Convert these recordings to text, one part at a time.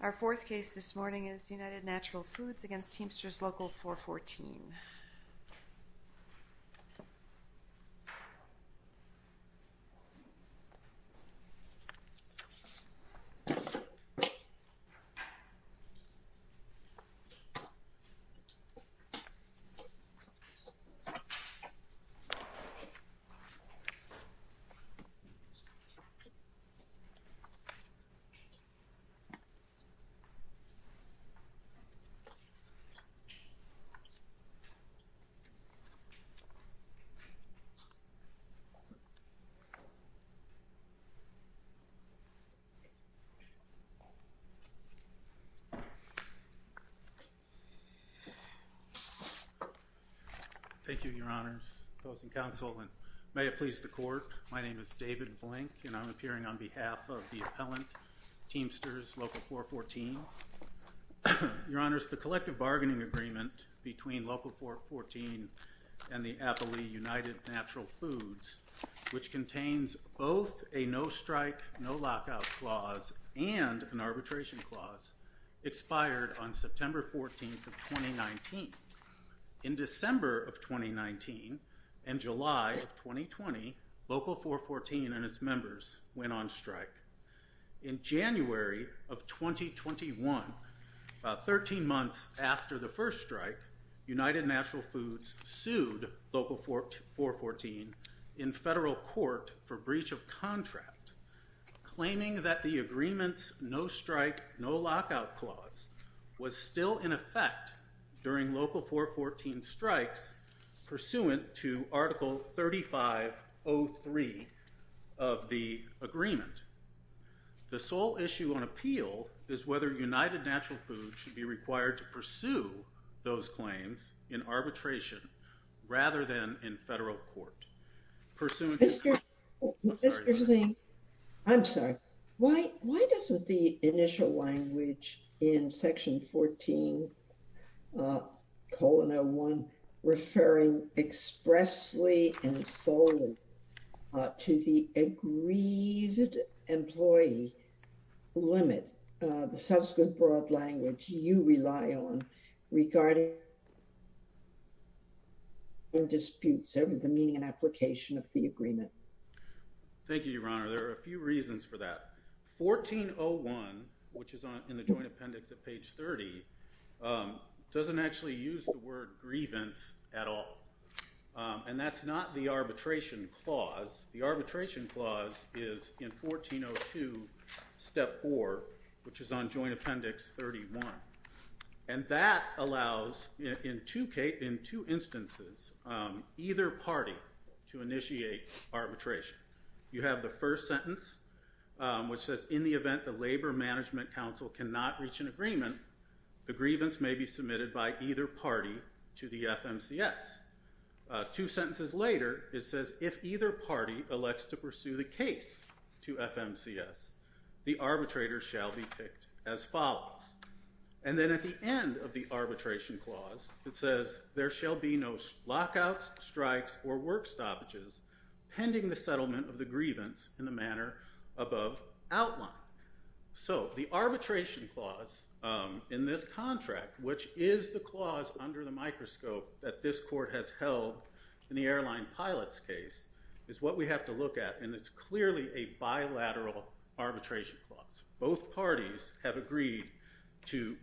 Our fourth case this morning is United Natural Foods v. Teamsters Local 414. Thank you, Your Honors, opposing counsel, and may it please the Court, my name is David Blank, and I'm appearing on behalf of the appellant, Teamsters Local 414. Your Honors, the collective bargaining agreement between Local 414 and the appellee, United Natural Foods, which contains both a no-strike, no-lockout clause and an arbitration clause, expired on September 14th of 2019. In December of 2019 and July of 2020, Local 414 and its members went on strike. In January of 2021, 13 months after the first strike, United Natural Foods sued Local 414 in federal court for breach of contract, claiming that the agreement's no-strike, no-lockout clause was still in effect during Local 414's strikes pursuant to Article 3503 of the agreement. The sole issue on appeal is whether United Natural Foods should be required to pursue those claims in arbitration rather than in federal court, pursuant to Article 3503. Mr. Zwing, I'm sorry, why doesn't the initial language in Section 14, colon 01, referring expressly and solely to the agreed employee limit, the subsequent broad language you rely on regarding disputes over the meaning and application of the agreement? Thank you, Your Honor, there are a few reasons for that. 1401, which is in the Joint Appendix at page 30, doesn't actually use the word grievance at all, and that's not the arbitration clause. The arbitration clause is in 1402, Step 4, which is on Joint Appendix 31. And that allows, in two instances, either party to initiate arbitration. You have the first sentence, which says, in the event the Labor Management Council cannot reach an agreement, the grievance may be submitted by either party to the FMCS. Two sentences later, it says, if either party elects to pursue the case to FMCS, the arbitrator shall be picked as follows. And then at the end of the arbitration clause, it says, there shall be no lockouts, strikes, or work stoppages pending the settlement of the grievance in the manner above outlined. So the arbitration clause in this contract, which is the clause under the microscope that this court has held in the airline pilot's case, is what we have to look at, and it's clearly a bilateral arbitration clause. Both parties have agreed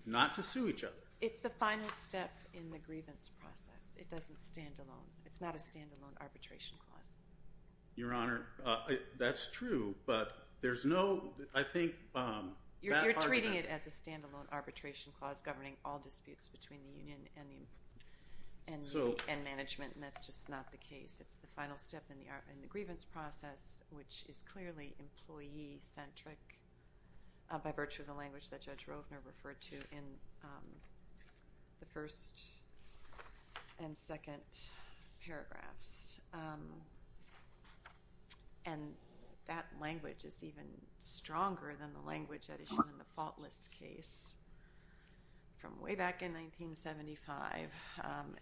not to sue each other. It's the final step in the grievance process. It doesn't stand alone. It's not a stand-alone arbitration clause. Your Honor, that's true, but there's no, I think, bad argument. You're treating it as a stand-alone arbitration clause governing all disputes between the plaintiff and management, and that's just not the case. It's the final step in the grievance process, which is clearly employee-centric by virtue of the language that Judge Rovner referred to in the first and second paragraphs. And that language is even stronger than the language that is shown in the faultless case from way back in 1975,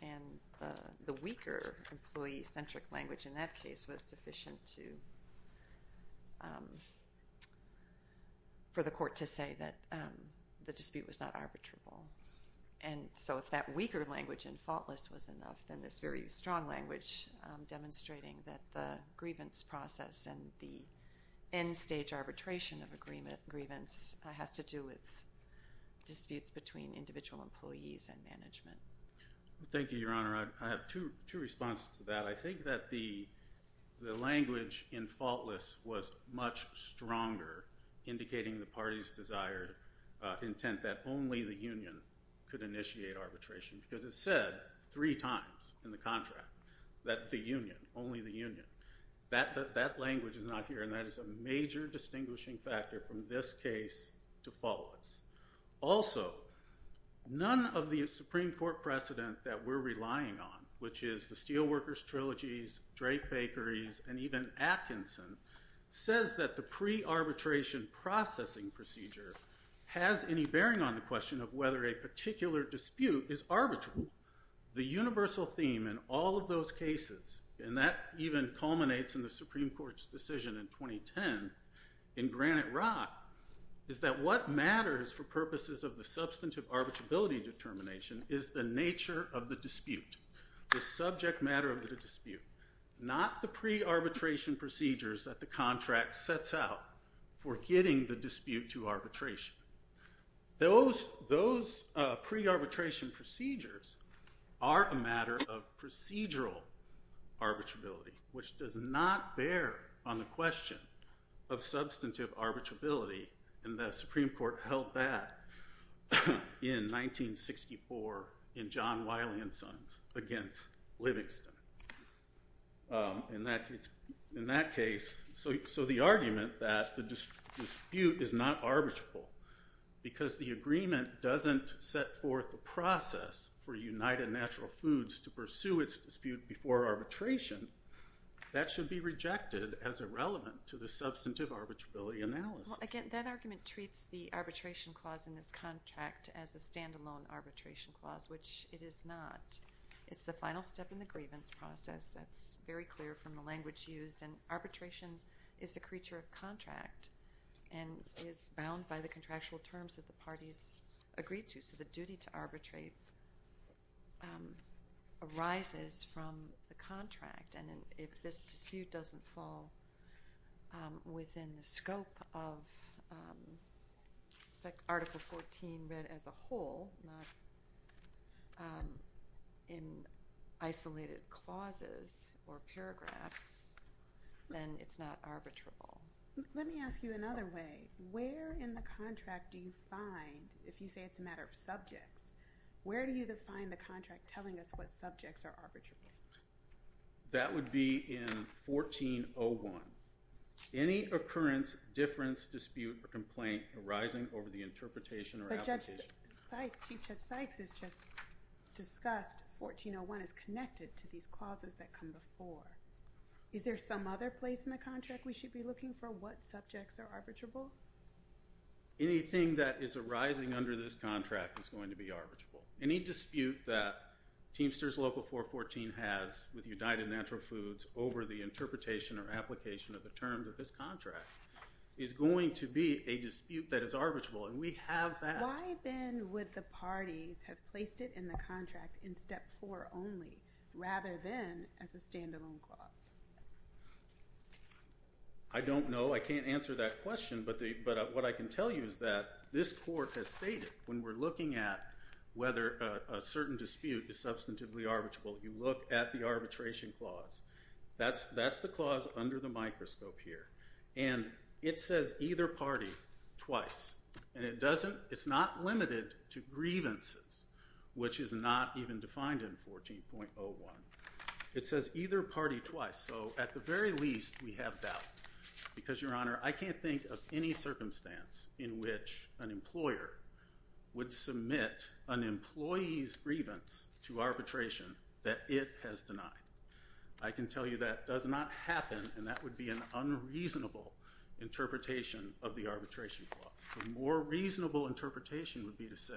and the weaker employee-centric language in that case was sufficient for the court to say that the dispute was not arbitrable. And so if that weaker language in faultless was enough, then this very strong language demonstrating that the grievance process and the end-stage arbitration of a grievance has to do with disputes between individual employees and management. Thank you, Your Honor. I have two responses to that. I think that the language in faultless was much stronger, indicating the party's desired intent that only the union could initiate arbitration, because it said three times in the contract that the union, only the union. That language is not here, and that is a major distinguishing factor from this case to faultless. Also, none of the Supreme Court precedent that we're relying on, which is the Steelworkers Trilogies, Drake Bakeries, and even Atkinson, says that the pre-arbitration processing procedure has any bearing on the question of whether a particular dispute is arbitrable. The universal theme in all of those cases, and that even culminates in the Supreme Court's decision in 2010 in Granite Rock, is that what matters for purposes of the substantive arbitrability determination is the nature of the dispute, the subject matter of the dispute, not the pre-arbitration procedures that the contract sets out for getting the dispute to arbitration. Those pre-arbitration procedures are a matter of procedural arbitrability, which does not bear on the question of substantive arbitrability, and the Supreme Court held that in 1964 in John Wiley and Sons against Livingston. In that case, so the argument that the dispute is not arbitrable because the agreement doesn't set forth the process for United Natural Foods to pursue its dispute before arbitration, that should be rejected as irrelevant to the substantive arbitrability analysis. Well, again, that argument treats the arbitration clause in this contract as a standalone arbitration clause, which it is not. It's the final step in the grievance process that's very clear from the language used, and arbitration is a creature of contract and is bound by the contractual terms that the parties agreed to, so the duty to arbitrate arises from the contract, and if this dispute doesn't fall within the scope of Article 14 read as a whole, not in isolated clauses or paragraphs, then it's not arbitrable. Let me ask you another way. Where in the contract do you find, if you say it's a matter of subjects, where do you That would be in 14.01. Any occurrence, difference, dispute, or complaint arising over the interpretation or application. But Judge Sykes, Chief Judge Sykes has just discussed 14.01 is connected to these clauses that come before. Is there some other place in the contract we should be looking for what subjects are arbitrable? Anything that is arising under this contract is going to be arbitrable. Any dispute that Teamsters Local 414 has with United Natural Foods over the interpretation or application of the terms of this contract is going to be a dispute that is arbitrable, and we have that. Why then would the parties have placed it in the contract in Step 4 only, rather than as a standalone clause? I don't know. I can't answer that question, but what I can tell you is that this court has stated, when we're looking at whether a certain dispute is substantively arbitrable, you look at the arbitration clause. That's the clause under the microscope here, and it says either party twice, and it's not limited to grievances, which is not even defined in 14.01. It says either party twice, so at the very least we have doubt, because, Your Honor, I can't think of any circumstance in which an employer would submit an employee's grievance to arbitration that it has denied. I can tell you that does not happen, and that would be an unreasonable interpretation of the arbitration clause. The more reasonable interpretation would be to say,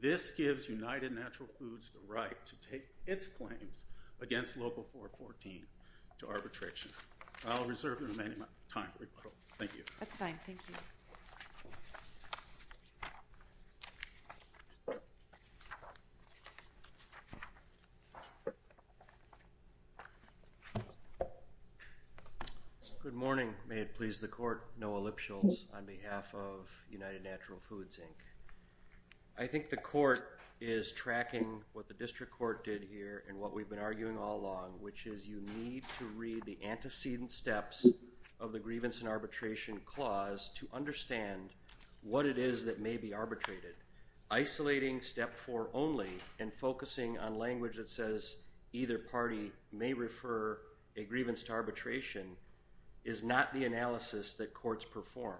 this gives United Natural Foods the right to take its claims against Local 414 to arbitration. I'll reserve the remaining time for rebuttal. Thank you. That's fine. Thank you. Good morning. May it please the Court. Noah Lipschultz on behalf of United Natural Foods, Inc. I think the court is tracking what the district court did here and what we've been arguing all along, which is you need to read the antecedent steps of the grievance and arbitration clause to understand what it is that may be arbitrated. Isolating step four only and focusing on language that says either party may refer a grievance to arbitration is not the analysis that courts perform.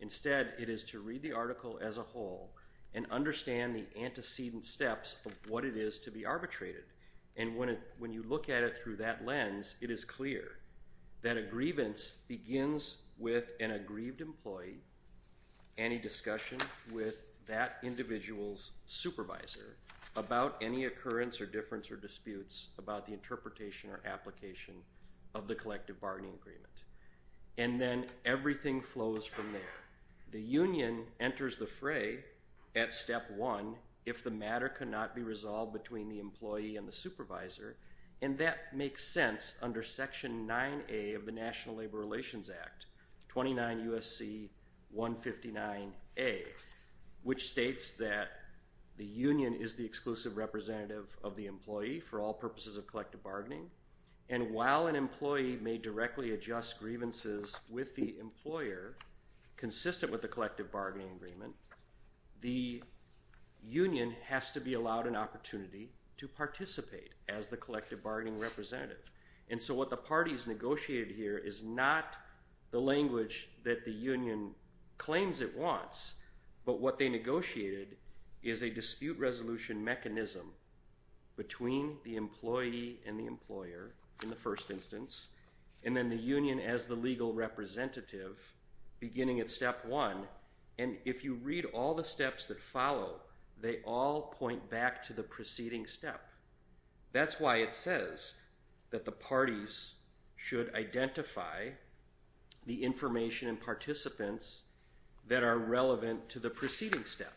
Instead, it is to read the article as a whole and understand the antecedent steps of what it is to be arbitrated. And when you look at it through that lens, it is clear that a grievance begins with an aggrieved employee, any discussion with that individual's supervisor about any occurrence or difference or disputes about the interpretation or application of the collective bargaining agreement. And then everything flows from there. The union enters the fray at step one if the matter cannot be resolved between the employee and the supervisor, and that makes sense under section 9A of the National Labor Relations Act, 29 U.S.C. 159A, which states that the union is the exclusive representative of the employee for all purposes of collective bargaining, and while an employee may directly adjust grievances with the employer consistent with the collective bargaining agreement, the union has to be allowed an opportunity to participate as the collective bargaining representative. And so what the parties negotiated here is not the language that the union claims it wants, but what they negotiated is a dispute resolution mechanism between the employee and the employer in the first instance, and then the union as the legal representative beginning at step one. And if you read all the steps that follow, they all point back to the preceding step. That's why it says that the parties should identify the information and participants that are relevant to the preceding step,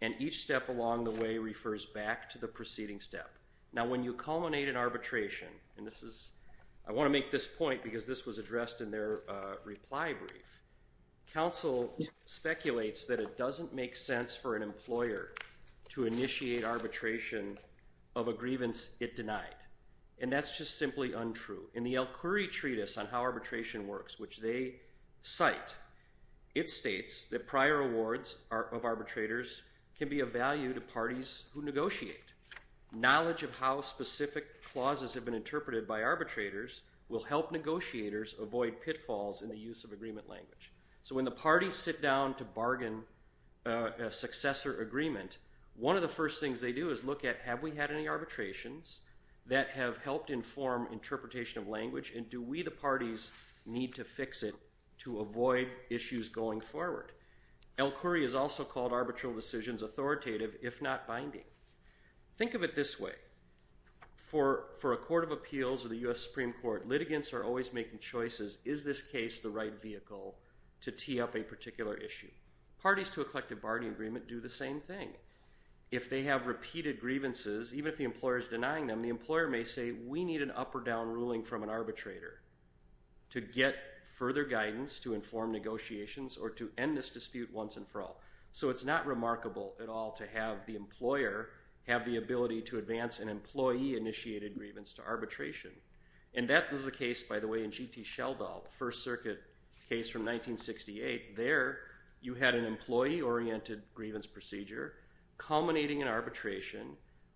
and each step along the way refers back to the preceding step. Now, when you culminate an arbitration, and this is, I want to make this point because this was addressed in their reply brief, counsel speculates that it doesn't make sense for an employer to initiate arbitration of a grievance it denied, and that's just simply untrue. In the Elkhury Treatise on How Arbitration Works, which they cite, it states that prior awards of arbitrators can be of value to parties who negotiate. Knowledge of how specific clauses have been interpreted by arbitrators will help negotiators avoid pitfalls in the use of agreement language. So when the parties sit down to bargain a successor agreement, one of the first things they do is look at have we had any arbitrations that have helped inform interpretation of Elkhury is also called arbitral decisions authoritative if not binding. Think of it this way. For a court of appeals or the U.S. Supreme Court, litigants are always making choices, is this case the right vehicle to tee up a particular issue? Parties to a collective bargaining agreement do the same thing. If they have repeated grievances, even if the employer is denying them, the employer may say we need an up or down ruling from an arbitrator to get further guidance to end this dispute once and for all. So it's not remarkable at all to have the employer have the ability to advance an employee-initiated grievance to arbitration. And that was the case, by the way, in G.T. Scheldahl, the First Circuit case from 1968. There you had an employee-oriented grievance procedure culminating in arbitration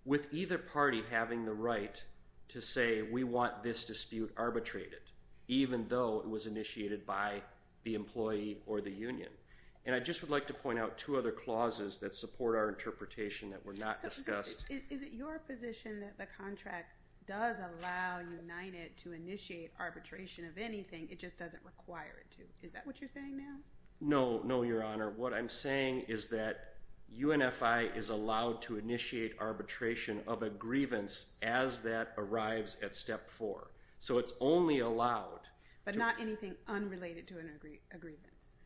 with either party having the right to say we want this dispute arbitrated, even though it was And I just would like to point out two other clauses that support our interpretation that were not discussed. Is it your position that the contract does allow United to initiate arbitration of anything, it just doesn't require it to? Is that what you're saying now? No, no, Your Honor. What I'm saying is that UNFI is allowed to initiate arbitration of a grievance as that arrives at step four. So it's only allowed. But not anything unrelated to a grievance.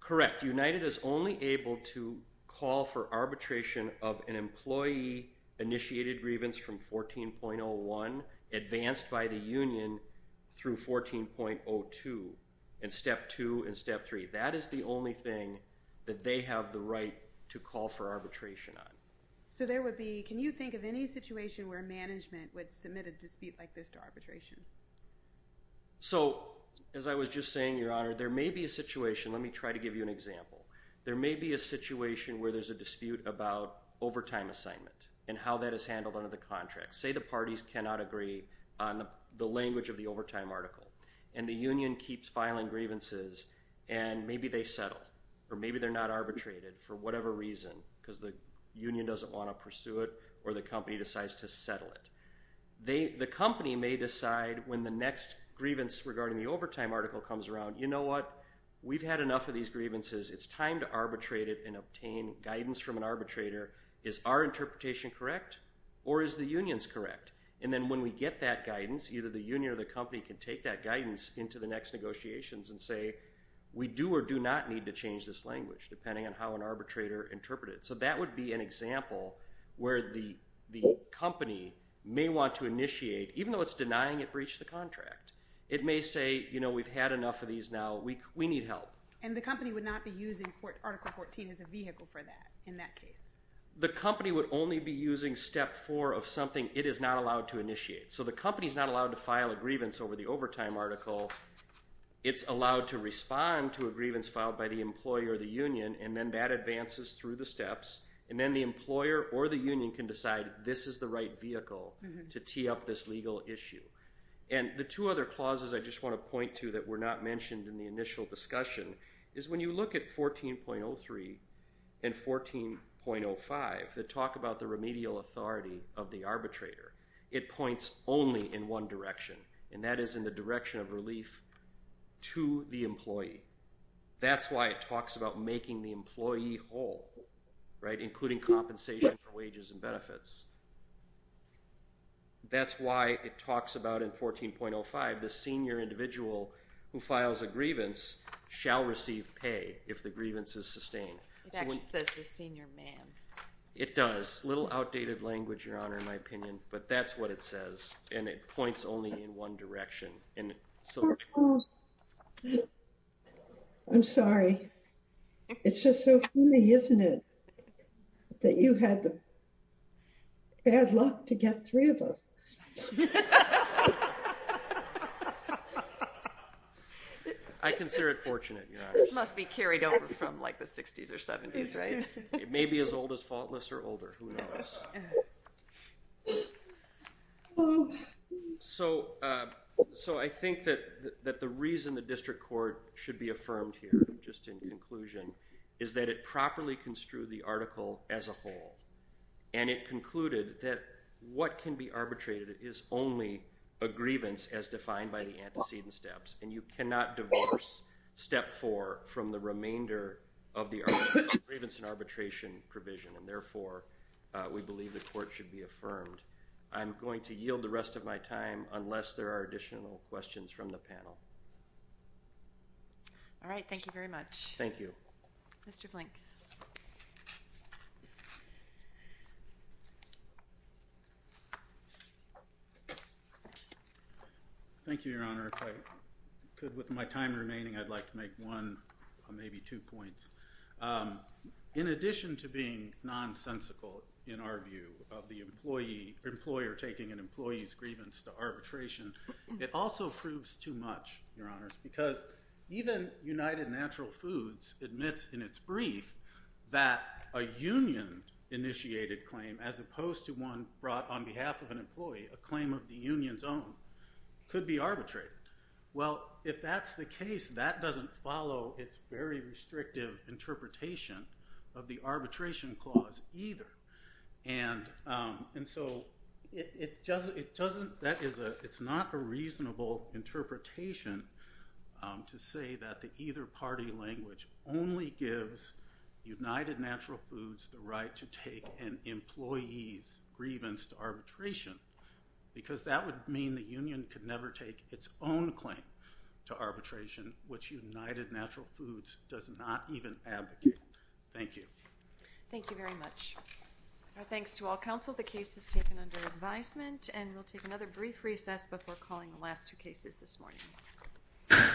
Correct. United is only able to call for arbitration of an employee-initiated grievance from 14.01 advanced by the union through 14.02 in step two and step three. That is the only thing that they have the right to call for arbitration on. So there would be, can you think of any situation where management would submit a dispute like this to arbitration? So as I was just saying, Your Honor, there may be a situation, let me try to give you an example. There may be a situation where there's a dispute about overtime assignment and how that is handled under the contract. Say the parties cannot agree on the language of the overtime article and the union keeps filing grievances and maybe they settle or maybe they're not arbitrated for whatever reason because the union doesn't want to pursue it or the company decides to settle it. The company may decide when the next grievance regarding the overtime article comes around, you know what, we've had enough of these grievances, it's time to arbitrate it and obtain guidance from an arbitrator. Is our interpretation correct or is the union's correct? And then when we get that guidance, either the union or the company can take that guidance into the next negotiations and say, we do or do not need to change this language depending on how an arbitrator interpret it. So that would be an example where the company may want to initiate, even though it's denying it breached the contract. It may say, you know, we've had enough of these now, we need help. And the company would not be using Article 14 as a vehicle for that, in that case? The company would only be using Step 4 of something it is not allowed to initiate. So the company is not allowed to file a grievance over the overtime article. It's allowed to respond to a grievance filed by the employee or the union and then that And then the employer or the union can decide this is the right vehicle to tee up this legal issue. And the two other clauses I just want to point to that were not mentioned in the initial discussion is when you look at 14.03 and 14.05 that talk about the remedial authority of the arbitrator, it points only in one direction and that is in the direction of relief to the employee. That's why it talks about making the employee whole, right? Including compensation for wages and benefits. That's why it talks about in 14.05, the senior individual who files a grievance shall receive pay if the grievance is sustained. It actually says the senior man. It does. A little outdated language, Your Honor, in my opinion, but that's what it says. And it points only in one direction. I'm sorry. It's just so funny, isn't it, that you had the bad luck to get three of us. I consider it fortunate, Your Honor. This must be carried over from like the 60s or 70s, right? It may be as old as faultless or older, who knows? So, I think that the reason the district court should be affirmed here, just in conclusion, is that it properly construed the article as a whole. And it concluded that what can be arbitrated is only a grievance as defined by the antecedent steps. And you cannot divorce step four from the remainder of the grievance and arbitration provision. And therefore, we believe the court should be affirmed. I'm going to yield the rest of my time unless there are additional questions from the panel. All right. Thank you very much. Thank you. Mr. Flink. Thank you, Your Honor. If I could, with my time remaining, I'd like to make one, maybe two points. In addition to being nonsensical, in our view, of the employer taking an employee's grievance to arbitration, it also proves too much, Your Honors, because even United Natural Foods admits in its brief that a union-initiated claim, as opposed to one brought on behalf of an employee, a claim of the union's own, could be arbitrated. Well, if that's the case, that doesn't follow its very restrictive interpretation of the arbitration clause either. And so it's not a reasonable interpretation to say that the either party language only gives United Natural Foods the right to take an employee's grievance to arbitration, because that would mean the union could never take its own claim to arbitration, which United Natural Foods does not even advocate. Thank you. Thank you very much. Our thanks to all counsel. The case is taken under advisement, and we'll take another brief recess before calling the last two cases this morning.